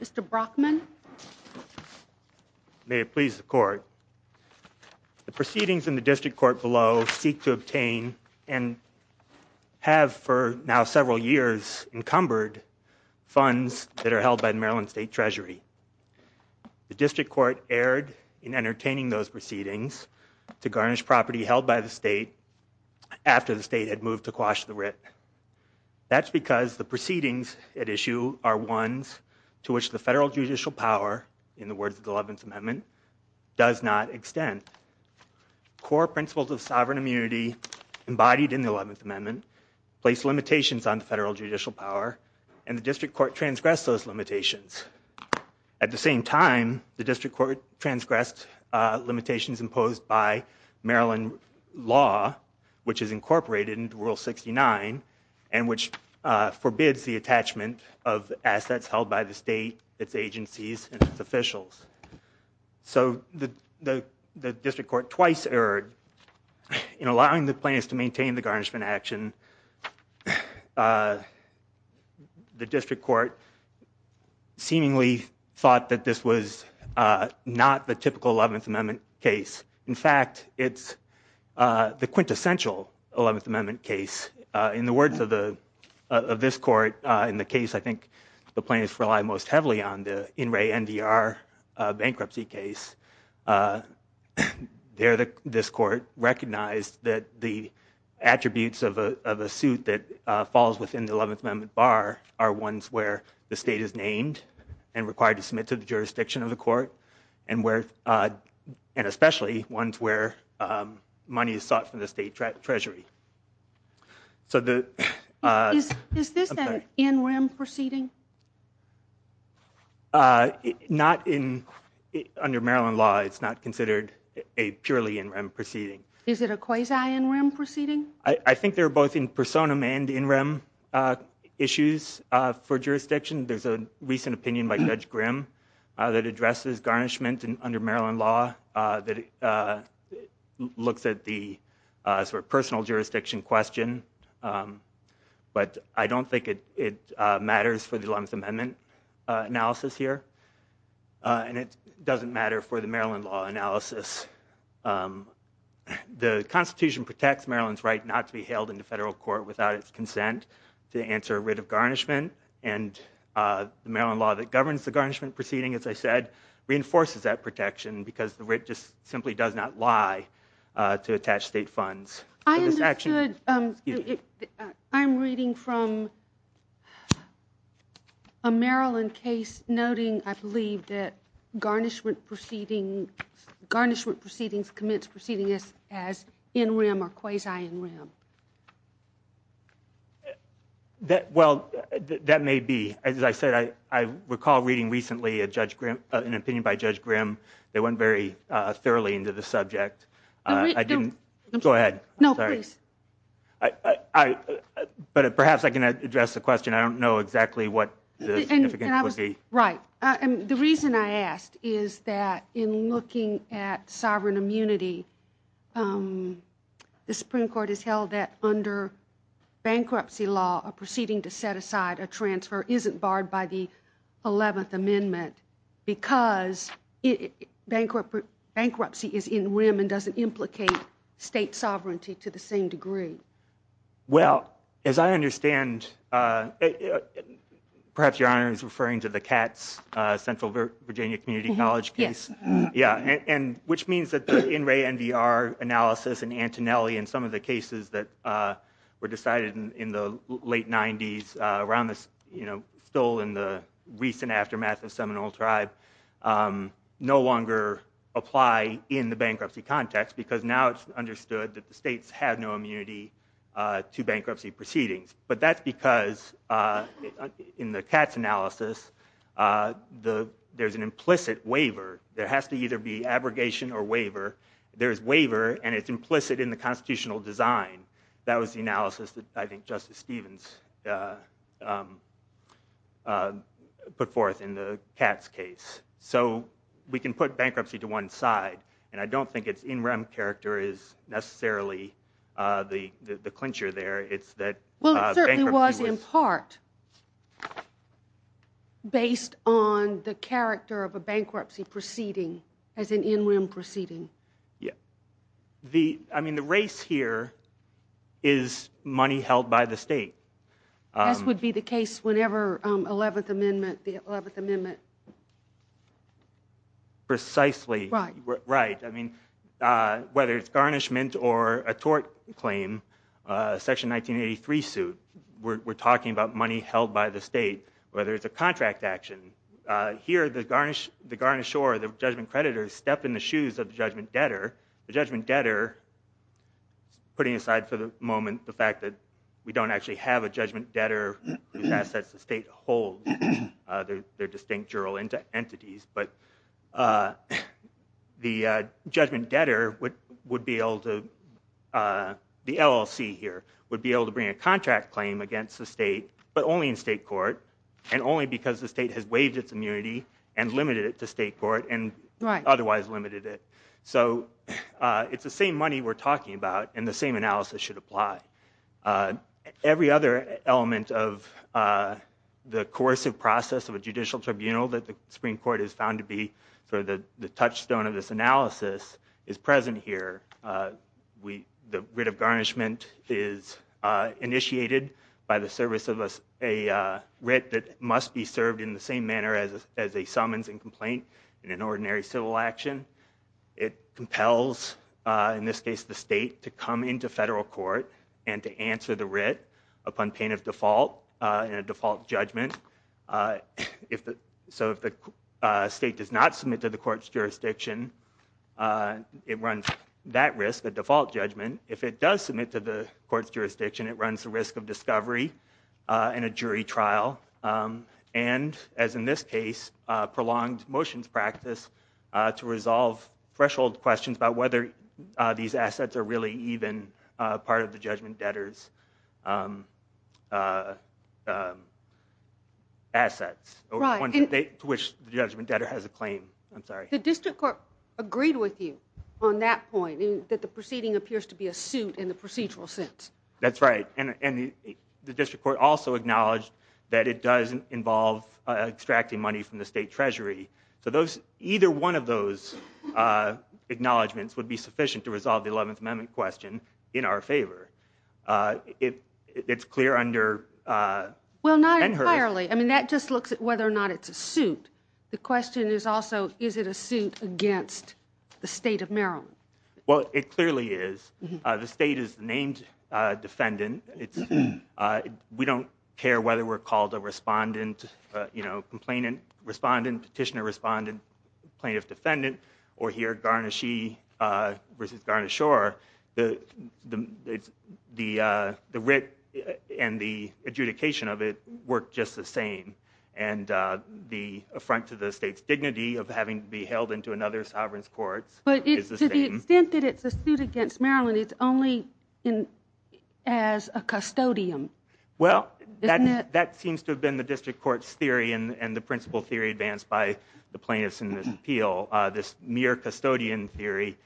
Mr. Brockman May it please the court the proceedings in the district court below seek to obtain and Have for now several years encumbered funds that are held by Maryland State Treasury The district court erred in entertaining those proceedings to garnish property held by the state After the state had moved to quash the writ That's because the proceedings at issue are ones to which the federal judicial power in the words of the Eleventh Amendment Does not extend core principles of sovereign immunity Embodied in the Eleventh Amendment place limitations on the federal judicial power and the district court transgress those limitations At the same time the district court transgressed limitations imposed by Maryland law Which is incorporated into rule 69 and which Forbids the attachment of assets held by the state its agencies and its officials So the the district court twice erred In allowing the plans to maintain the garnishment action The district court seemingly thought that this was Not the typical Eleventh Amendment case. In fact, it's The quintessential Eleventh Amendment case in the words of the of this court in the case I think the plaintiffs rely most heavily on the in re NDR bankruptcy case There the this court recognized that the attributes of a suit that falls within the Eleventh Amendment bar are ones where the state is named and required to submit to the jurisdiction of the court and where and especially ones where Money is sought from the state Treasury So the is this an NREM proceeding? Not in Under Maryland law, it's not considered a purely NREM proceeding. Is it a quasi NREM proceeding? I think they're both in personam and NREM Issues for jurisdiction. There's a recent opinion by Judge Grimm that addresses garnishment and under Maryland law that It looks at the sort of personal jurisdiction question But I don't think it it matters for the Eleventh Amendment analysis here And it doesn't matter for the Maryland law analysis The Constitution protects Maryland's right not to be held in the federal court without its consent to answer a writ of garnishment and the Maryland law that governs the garnishment proceeding as I said Reinforces that protection because the writ just simply does not lie to attach state funds. I understand I'm reading from a Maryland case noting I believe that garnishment proceeding Garnishment proceedings commence proceeding this as NREM or quasi NREM That Well, that may be as I said, I recall reading recently a Judge Grimm an opinion by Judge Grimm They went very thoroughly into the subject. I didn't go ahead. No, please. I But perhaps I can address the question, I don't know exactly what Right. And the reason I asked is that in looking at sovereign immunity The Supreme Court has held that under bankruptcy law a proceeding to set aside a transfer isn't barred by the Eleventh Amendment because it bankrupt bankruptcy is in women doesn't implicate state sovereignty to the same degree Well as I understand Perhaps your honor is referring to the cats Central Virginia Community College case yeah, and which means that the in Ray and VR analysis and Antonelli and some of the cases that Were decided in the late 90s around this, you know still in the recent aftermath of Seminole tribe No longer apply in the bankruptcy context because now it's understood that the state's had no immunity to bankruptcy proceedings, but that's because in the cats analysis The there's an implicit waiver. There has to either be abrogation or waiver There's waiver and it's implicit in the constitutional design. That was the analysis that I think Justice Stevens Put forth in the cats case so we can put bankruptcy to one side and I don't think it's in rem character is necessarily The the clincher there. It's that well it was in part Based on the character of a bankruptcy proceeding as an in rim proceeding. Yeah the I mean the race here is money held by the state This would be the case whenever 11th Amendment the 11th Amendment Precisely right, right. I mean Whether it's garnishment or a tort claim Section 1983 suit we're talking about money held by the state whether it's a contract action Here the garnish the garnish or the judgment creditors step in the shoes of the judgment debtor the judgment debtor Putting aside for the moment the fact that we don't actually have a judgment debtor assets the state hold their distinct journal into entities, but The judgment debtor would would be able to The LLC here would be able to bring a contract claim against the state but only in state court and only because the state has waived its immunity and Limited it to state court and right otherwise limited it. So It's the same money we're talking about and the same analysis should apply every other element of the coercive process of a judicial tribunal that the Supreme Court is found to be for the the touchstone of this analysis is present here we the writ of garnishment is initiated by the service of us a Writ that must be served in the same manner as as a summons and complaint in an ordinary civil action It compels in this case the state to come into federal court and to answer the writ upon pain of default in a default judgment if the so if the State does not submit to the court's jurisdiction And it runs that risk a default judgment if it does submit to the court's jurisdiction it runs the risk of discovery in a jury trial and as in this case prolonged motions practice to resolve threshold questions about whether These assets are really even part of the judgment debtors Assets Which the judgment debtor has a claim I'm sorry the district court agreed with you on that point that the proceeding appears to be a suit in the procedural sense That's right, and the district court also acknowledged that it doesn't involve Extracting money from the state treasury so those either one of those Acknowledgements would be sufficient to resolve the 11th amendment question in our favor It it's clear under Well not entirely. I mean that just looks at whether or not it's a suit the question is also is it a suit against? The state of Maryland well it clearly is the state is named defendant it's We don't care whether we're called a respondent You know complainant respondent petitioner respondent plaintiff defendant or here garnish e Versus garnish or the the the writ and the adjudication of it worked just the same and The affront to the state's dignity of having to be held into another sovereigns courts But it's to the extent that it's a suit against Maryland. It's only in as a custodian Well that that seems to have been the district courts theory and the principle theory advanced by the plaintiffs in this appeal This mere custodian theory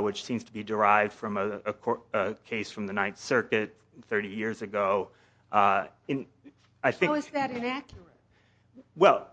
which seems to be derived from a court case from the Ninth Circuit 30 years ago in I think Well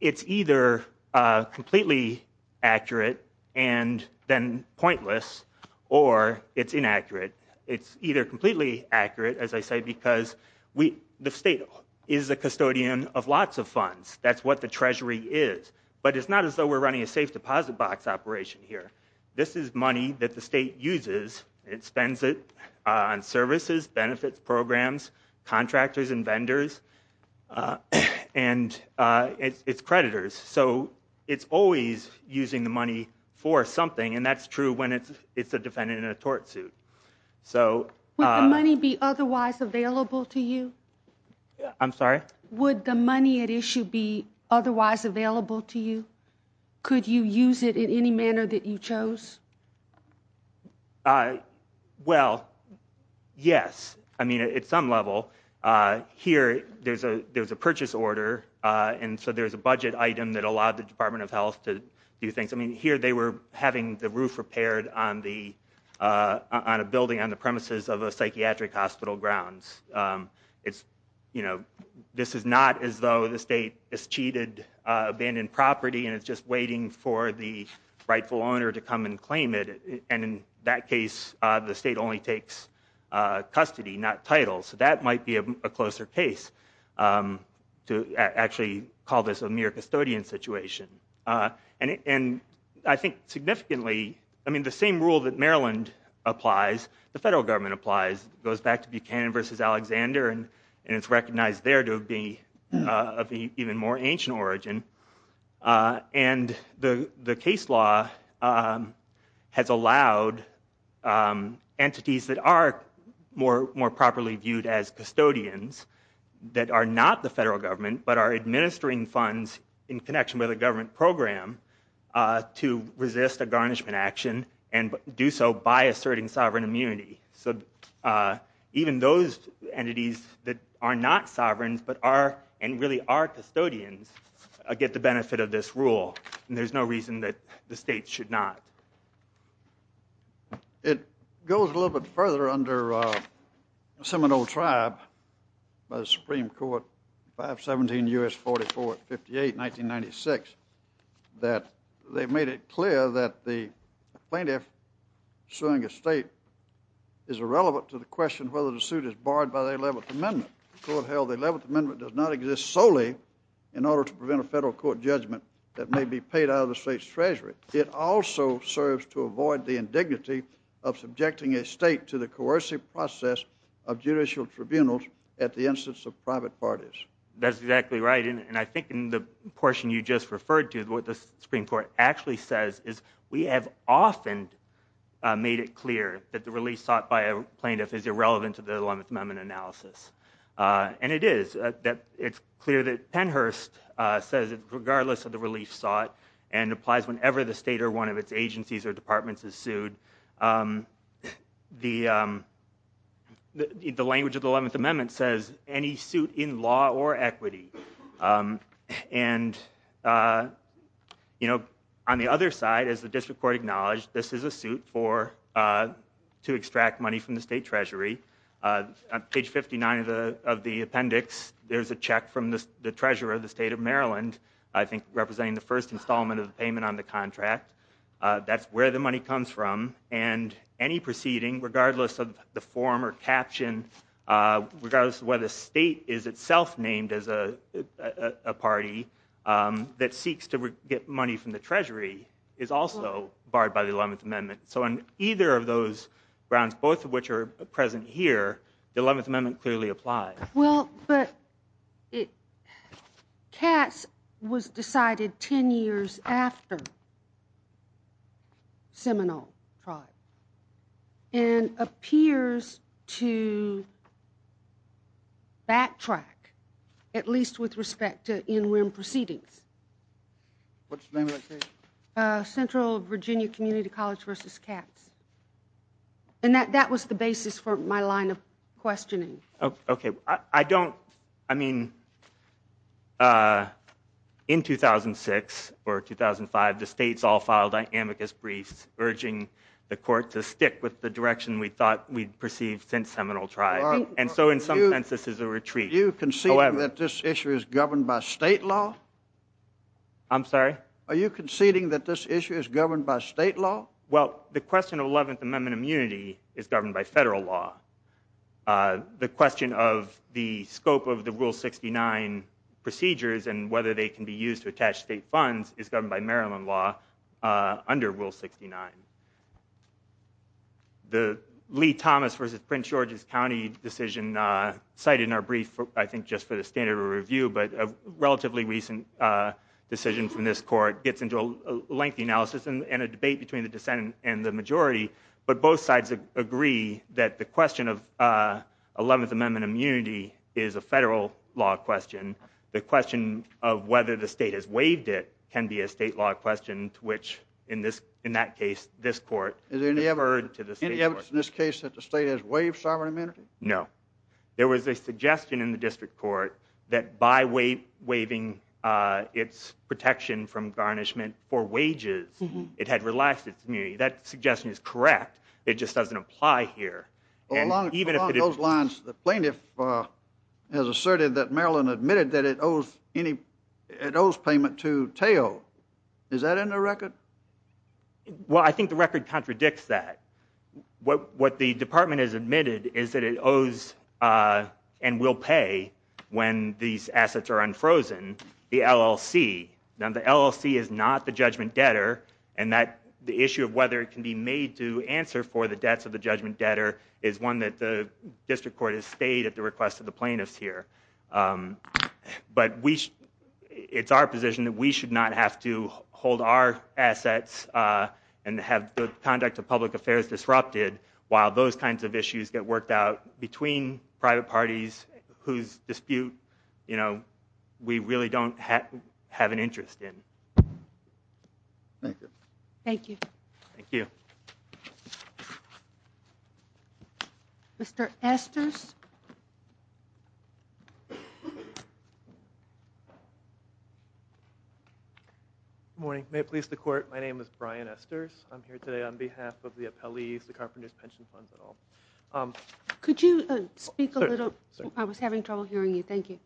it's either completely accurate and then pointless or It's inaccurate It's either completely accurate as I say because we the state is a custodian of lots of funds That's what the Treasury is, but it's not as though. We're running a safe deposit box operation here This is money that the state uses it spends it on services benefits programs contractors and vendors and It's creditors, so it's always using the money for something and that's true when it's it's a defendant in a tort suit So money be otherwise available to you I'm sorry would the money at issue be otherwise available to you. Could you use it in any manner that you chose? Well Yes, I mean at some level Here, there's a there's a purchase order and so there's a budget item that allowed the Department of Health to do things I mean here they were having the roof repaired on the On a building on the premises of a psychiatric hospital grounds It's you know this is not as though the state is cheated Abandoned property, and it's just waiting for the rightful owner to come and claim it and in that case the state only takes Custody not title so that might be a closer case to actually call this a mere custodian situation and I think significantly I mean the same rule that Maryland Applies the federal government applies goes back to Buchanan versus Alexander, and and it's recognized there to be even more ancient origin and the the case law has allowed Entities that are more more properly viewed as custodians That are not the federal government, but are administering funds in connection with a government program To resist a garnishment action and do so by asserting sovereign immunity, so Even those entities that are not sovereigns, but are and really are custodians I get the benefit of this rule, and there's no reason that the state should not It goes a little bit further under Seminole tribe by the Supreme Court 517 US 44 at 58 1996 That they made it clear that the plaintiff suing a state is Irrelevant to the question whether the suit is barred by the 11th amendment So it held the 11th amendment does not exist solely in order to prevent a federal court judgment That may be paid out of the state's Treasury It also serves to avoid the indignity of subjecting a state to the coercive process of judicial tribunals at the instance of private parties That's exactly right, and I think in the portion you just referred to what the Supreme Court actually says is we have often Made it clear that the release sought by a plaintiff is irrelevant to the 11th amendment analysis And it is that it's clear that Pennhurst Says it's regardless of the relief sought and applies whenever the state or one of its agencies or departments is sued The The language of the 11th amendment says any suit in law or equity and You know on the other side as the district court acknowledged this is a suit for to extract money from the state Treasury Page 59 of the of the appendix. There's a check from the treasurer of the state of Maryland I think representing the first installment of the payment on the contract That's where the money comes from and any proceeding regardless of the form or caption regardless of whether the state is itself named as a party That seeks to get money from the Treasury is also barred by the 11th amendment So on either of those grounds both of which are present here the 11th amendment clearly applies well, but it Cats was decided 10 years after Seminole tribe and Appears to Backtrack at least with respect to in rim proceedings Central Virginia Community College versus cats and that that was the basis for my line of questioning Okay, I don't I mean In 2006 or 2005 the state's all filed I amicus briefs urging the court to stick with the direction We thought we'd perceived since seminal tribe and so in some sense. This is a retreat you can see that This issue is governed by state law I'm sorry. Are you conceding that this issue is governed by state law well the question of 11th amendment immunity is governed by federal law The question of the scope of the rule 69 Procedures and whether they can be used to attach state funds is governed by Maryland law under rule 69 The Lee Thomas versus Prince George's County decision Cited in our brief for I think just for the standard of review, but a relatively recent Decision from this court gets into a lengthy analysis and a debate between the dissent and the majority But both sides agree that the question of 11th amendment immunity is a federal law question the question of whether the state has waived it can be a state law Question to which in this in that case this court is in the ever heard to the city in this case that the state has waived Sovereign amenity no there was a suggestion in the district court that by weight waiving Its protection from garnishment for wages it had relaxed its immunity that suggestion is correct It just doesn't apply here Even if it is lines the plaintiff Has asserted that Maryland admitted that it owes any it owes payment to tail is that in the record? Well, I think the record contradicts that What what the department has admitted is that it owes? And will pay when these assets are unfrozen the LLC Now the LLC is not the judgment debtor and that the issue of whether it can be made to Answer for the debts of the judgment debtor is one that the district court has stayed at the request of the plaintiffs here But we It's our position that we should not have to hold our assets and have the conduct of public affairs Disrupted while those kinds of issues get worked out between private parties whose dispute you know We really don't have an interest in Thank you, thank you Mr.. Esther's The carpenters pension funds at all could you speak a little I was having trouble hearing you. Thank you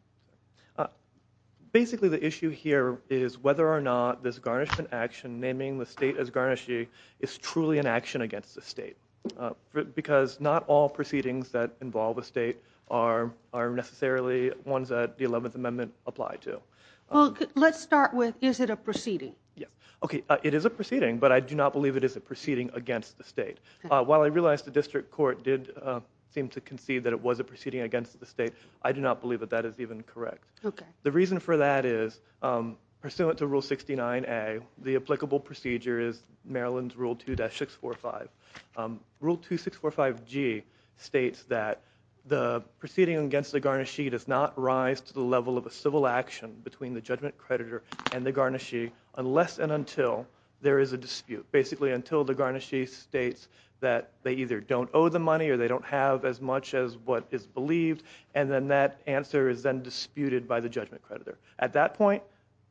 Basically the issue here is whether or not this garnishment action naming the state as garnishing is truly an action against the state Because not all proceedings that involve a state are Necessarily ones that the Eleventh Amendment apply to well, let's start with is it a proceeding yes, okay? It is a proceeding, but I do not believe it is a proceeding against the state While I realized the district court did seem to concede that it was a proceeding against the state I do not believe that that is even correct. Okay, the reason for that is Pursuant to rule 69 a the applicable procedure is Maryland's rule 2-6 4 5 rule 2 6 4 5 G states that the Proceeding against the garnish. She does not rise to the level of a civil action between the judgment creditor and the garnish Unless and until there is a dispute basically until the garnishes states that they either don't owe the money Or they don't have as much as what is believed And then that answer is then disputed by the judgment creditor at that point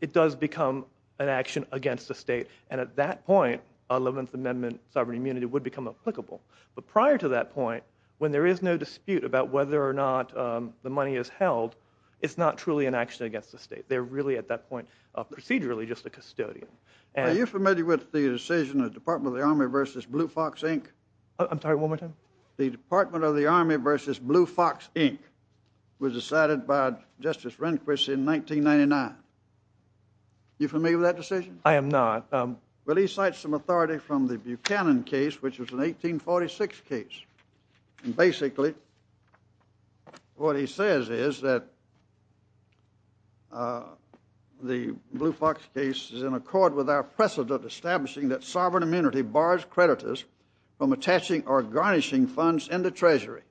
it does become an action against the state and at that Point 11th Amendment sovereign immunity would become applicable but prior to that point when there is no dispute about whether or not The money is held. It's not truly an action against the state They're really at that point of procedurally just a custodian and you're familiar with the decision of Department of the Army versus Blue Fox, Inc I'm sorry one more time the Department of the Army versus Blue Fox Inc was decided by Justice Rehnquist in 1999 You for me with that decision. I am NOT. Well, he cites some authority from the Buchanan case, which was an 1846 case and basically What he says is that The Blue Fox case is in accord with our precedent establishing that sovereign immunity bars creditors from attaching or garnishing funds in the Treasury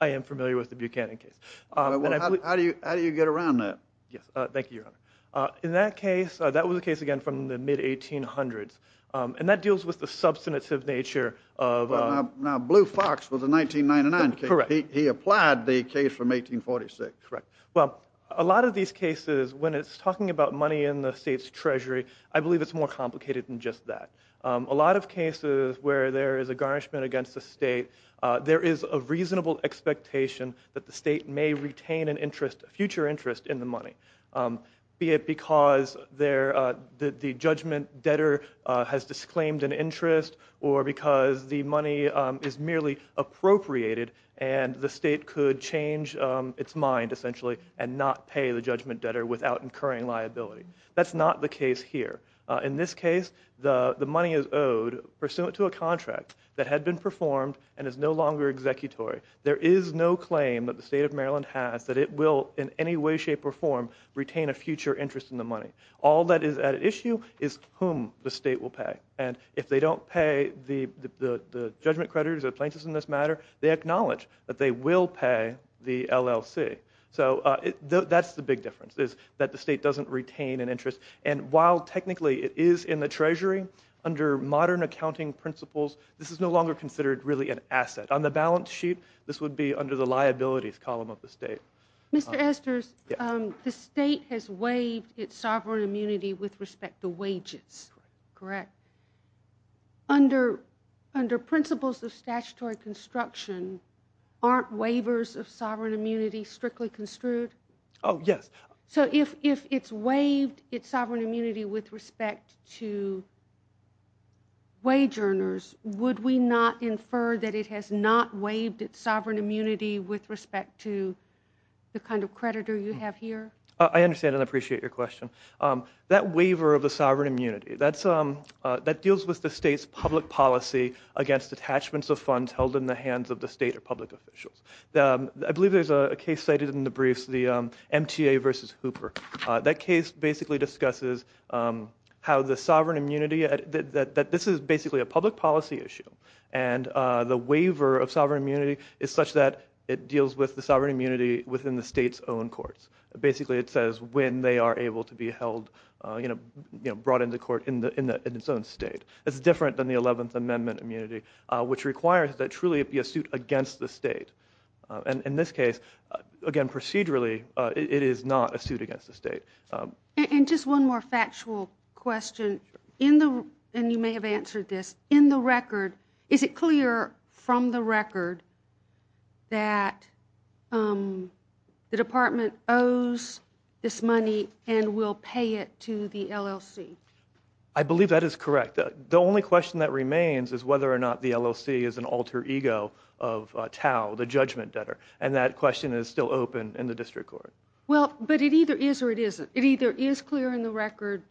I Am familiar with the Buchanan case. How do you how do you get around that? Yes. Thank you In that case that was a case again from the mid 1800s and that deals with the substantive nature of Blue Fox was a 1999 correct. He applied the case from 1846, right? Well a lot of these cases when it's talking about money in the state's Treasury I believe it's more complicated than just that a lot of cases where there is a garnishment against the state There is a reasonable expectation that the state may retain an interest future interest in the money be it because there the judgment debtor has disclaimed an interest or because the money is merely Appropriated and the state could change its mind essentially and not pay the judgment debtor without incurring liability That's not the case here in this case The the money is owed pursuant to a contract that had been performed and is no longer Executory there is no claim that the state of Maryland has that it will in any way shape or form retain a future interest in the money all that is at issue is whom the state will pay and if they don't pay the Judgment creditors or plaintiffs in this matter. They acknowledge that they will pay the LLC So that's the big difference is that the state doesn't retain an interest and while technically it is in the Treasury Under modern accounting principles. This is no longer considered really an asset on the balance sheet This would be under the liabilities column of the state. Mr. Esther's The state has waived its sovereign immunity with respect to wages correct Under under principles of statutory construction Aren't waivers of sovereign immunity strictly construed. Oh, yes so if if it's waived its sovereign immunity with respect to Wage earners would we not infer that it has not waived its sovereign immunity with respect to The kind of creditor you have here. I understand and appreciate your question that waiver of the sovereign immunity. That's um That deals with the state's public policy against attachments of funds held in the hands of the state or public officials Now, I believe there's a case cited in the briefs the MTA versus Hooper that case basically discusses how the sovereign immunity that this is basically a public policy issue and The waiver of sovereign immunity is such that it deals with the sovereign immunity within the state's own courts Basically, it says when they are able to be held, you know You know brought into court in the in the in its own state It's different than the 11th Amendment immunity, which requires that truly it be a suit against the state And in this case again procedurally it is not a suit against the state And just one more factual question in the and you may have answered this in the record Is it clear from the record? that The department owes This money and we'll pay it to the LLC. I believe that is correct that the only question that remains is whether or not the LLC is an alter ego of Tau the judgment debtor and that question is still open in the district court Well, but it either is or it isn't it either is clear in the record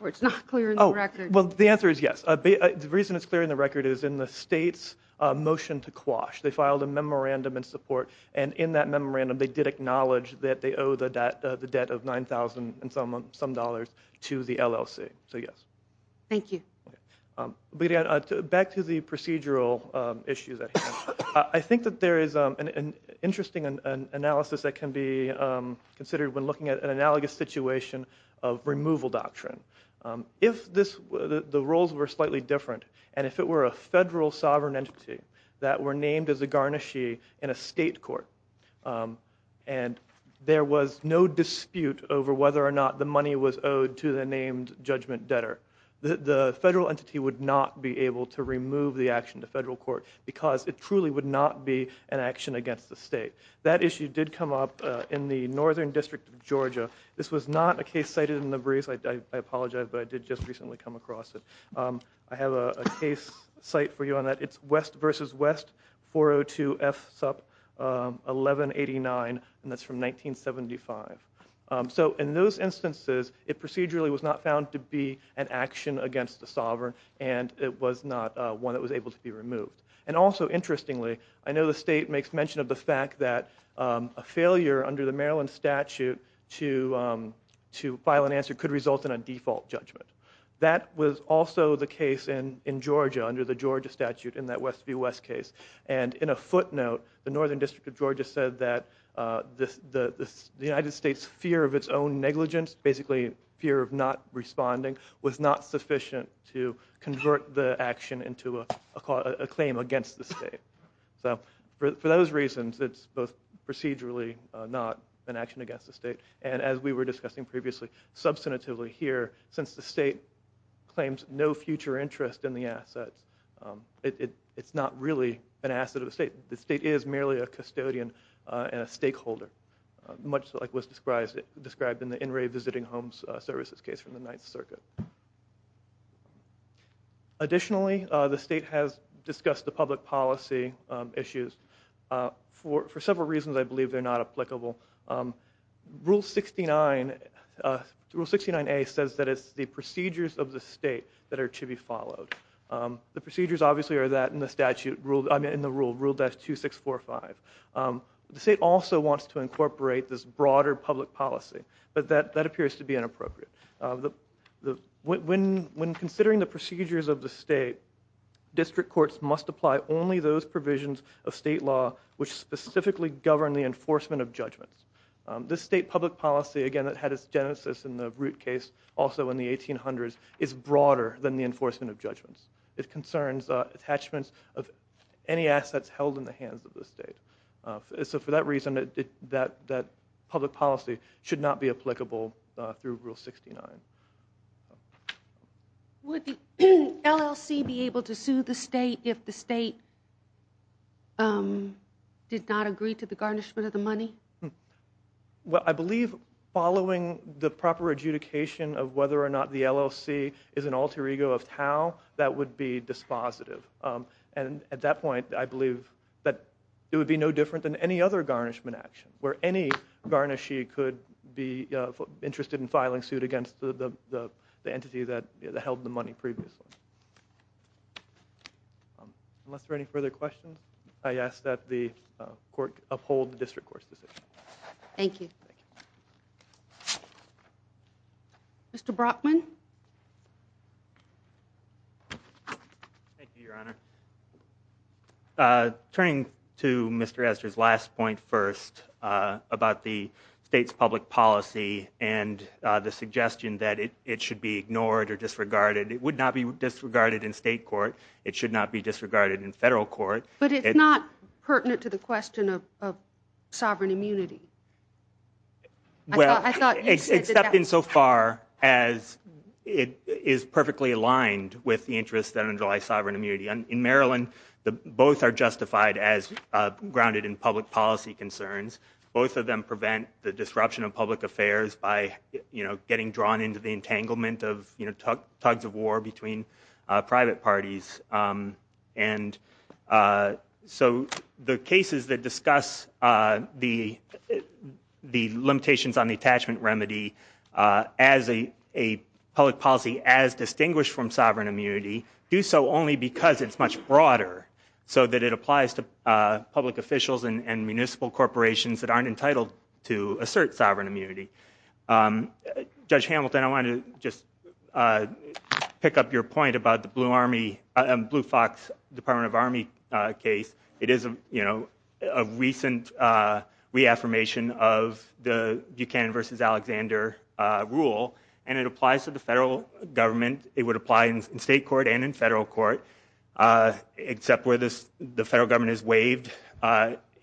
or it's not clear. Oh, well, the answer is yes The reason it's clear in the record is in the state's Memorandum and support and in that memorandum they did acknowledge that they owe the debt the debt of nine thousand and some some dollars To the LLC. So yes, thank you Back to the procedural issues that I think that there is an interesting analysis that can be considered when looking at an analogous situation of removal doctrine If this the roles were slightly different and if it were a federal sovereign entity That were named as a garnishee in a state court and There was no dispute over whether or not the money was owed to the named judgment debtor The federal entity would not be able to remove the action to federal court because it truly would not be an action against the state That issue did come up in the Northern District of Georgia. This was not a case cited in the breeze I apologize, but I did just recently come across it. I have a case site for you on that It's West versus West 402 F sup 1189 and that's from 1975 so in those instances It procedurally was not found to be an action against the sovereign and it was not one that was able to be removed and also interestingly, I know the state makes mention of the fact that a failure under the Maryland statute to To file an answer could result in a default judgment That was also the case in in Georgia under the Georgia statute in that West view West case and in a footnote the Northern District of Georgia said that This the United States fear of its own negligence basically fear of not Responding was not sufficient to convert the action into a call a claim against the state So for those reasons, it's both procedurally not an action against the state and as we were discussing previously Substantively here since the state claims no future interest in the assets It's not really an asset of the state. The state is merely a custodian and a stakeholder Much like was described it described in the in Ray visiting homes services case from the 9th Circuit Additionally the state has discussed the public policy issues for for several reasons, I believe they're not applicable rule 69 69 a says that it's the procedures of the state that are to be followed The procedures obviously are that in the statute ruled I'm in the rule rule that's two six four five The state also wants to incorporate this broader public policy, but that that appears to be inappropriate The the when when considering the procedures of the state District courts must apply only those provisions of state law which specifically govern the enforcement of judgments This state public policy again that had its genesis in the root case also in the 1800s is broader than the enforcement of judgments It concerns attachments of any assets held in the hands of the state So for that reason that that that public policy should not be applicable through rule 69 Would LLC be able to sue the state if the state Did not agree to the garnishment of the money Well, I believe following the proper adjudication of whether or not the LLC is an alter ego of how that would be Dispositive and at that point I believe that it would be no different than any other garnishment action where any garnishee could be interested in filing suit against the entity that held the money previously Unless there any further questions, I ask that the court uphold the district courts decision Thank you Mr. Brockman Turning to mr. Esther's last point first about the state's public policy and The suggestion that it it should be ignored or disregarded. It would not be disregarded in state court It should not be disregarded in federal court, but it's not pertinent to the question of Well, I thought except in so far as It is perfectly aligned with the interest that underlies sovereign immunity and in Maryland. The both are justified as grounded in public policy concerns both of them prevent the disruption of public affairs by you know getting drawn into the entanglement of you know, tugs of war between private parties and So the cases that discuss the Limitations on the attachment remedy as a Public policy as distinguished from sovereign immunity do so only because it's much broader So that it applies to public officials and municipal corporations that aren't entitled to assert sovereign immunity Judge Hamilton, I wanted to just Pick up your point about the Blue Army and Blue Fox Department of Army case. It is a you know a recent Reaffirmation of the Buchanan versus Alexander Rule and it applies to the federal government. It would apply in state court and in federal court Except where this the federal government is waived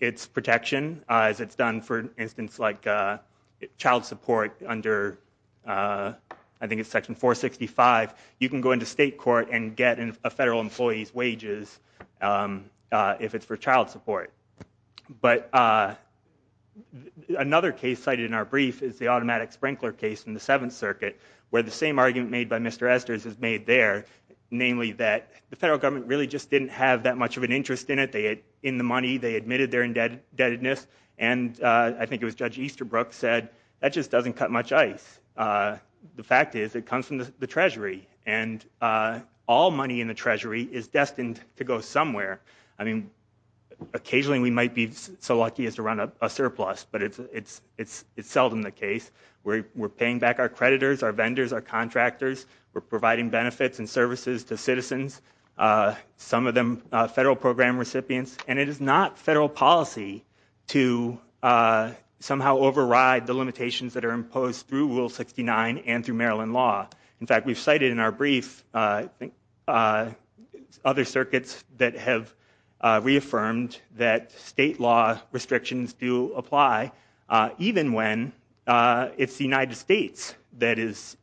its protection as it's done for instance like child support under I think it's section 465 you can go into state court and get in a federal employees wages if it's for child support But Another case cited in our brief is the automatic sprinkler case in the Seventh Circuit where the same argument made by Mr. Esther's is made there Namely that the federal government really just didn't have that much of an interest in it. They had in the money They admitted their indebtedness and I think it was judge Easterbrook said that just doesn't cut much ice the fact is it comes from the Treasury and All money in the Treasury is destined to go somewhere. I mean Occasionally we might be so lucky as to run a surplus, but it's it's it's it's seldom the case We're paying back our creditors our vendors our contractors. We're providing benefits and services to citizens some of them federal program recipients, and it is not federal policy to Somehow override the limitations that are imposed through Rule 69 and through Maryland law. In fact, we've cited in our brief Other circuits that have Reaffirmed that state law restrictions do apply even when it's the United States that is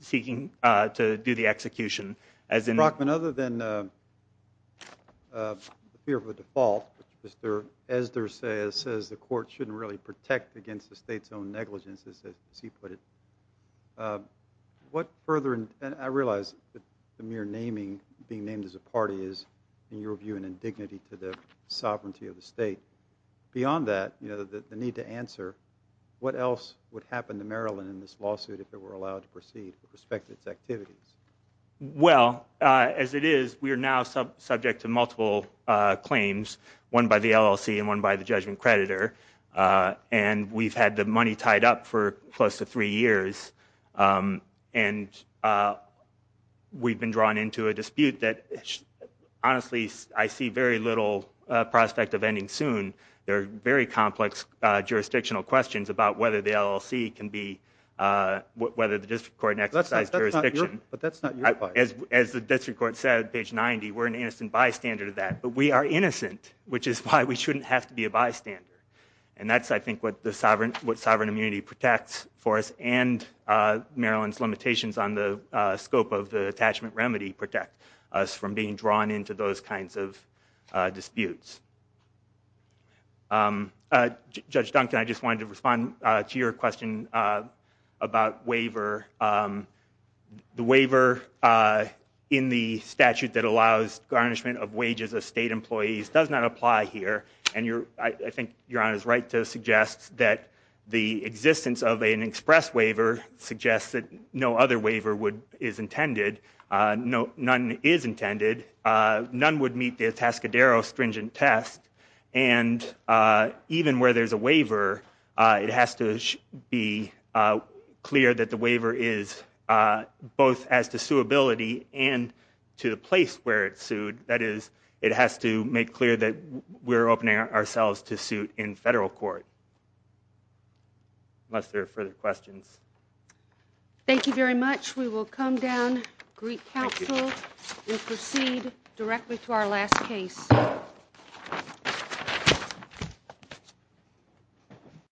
Seeking to do the execution as in Brockman other than Fear for default mr. Esther says says the court shouldn't really protect against the state's own negligence as he put it What further and I realize the mere naming being named as a party is in your view an indignity to the sovereignty of the state Beyond that, you know that the need to answer What else would happen to Maryland in this lawsuit if it were allowed to proceed with respect to its activities? Well as it is we are now subject to multiple claims one by the LLC and one by the judgment creditor And we've had the money tied up for close to three years and We've been drawn into a dispute that Honestly, I see very little prospect of ending soon. They're very complex jurisdictional questions about whether the LLC can be Whether the district court next size jurisdiction, but that's not as the district court said page 90 We're an innocent bystander to that but we are innocent Which is why we shouldn't have to be a bystander and that's I think what the sovereign what sovereign immunity protects for us and Maryland's limitations on the scope of the attachment remedy protect us from being drawn into those kinds of disputes Judge Duncan, I just wanted to respond to your question about waiver the waiver In the statute that allows garnishment of wages of state employees does not apply here And you're I think you're on his right to suggest that the existence of an express waiver Suggests that no other waiver would is intended. No none is intended none would meet the task Adaro stringent test and Even where there's a waiver it has to be clear that the waiver is both as to suitability and To the place where it's sued that is it has to make clear that we're opening ourselves to suit in federal court Unless there are further questions Thank you very much. We will come down Greek Council. We proceed directly to our last case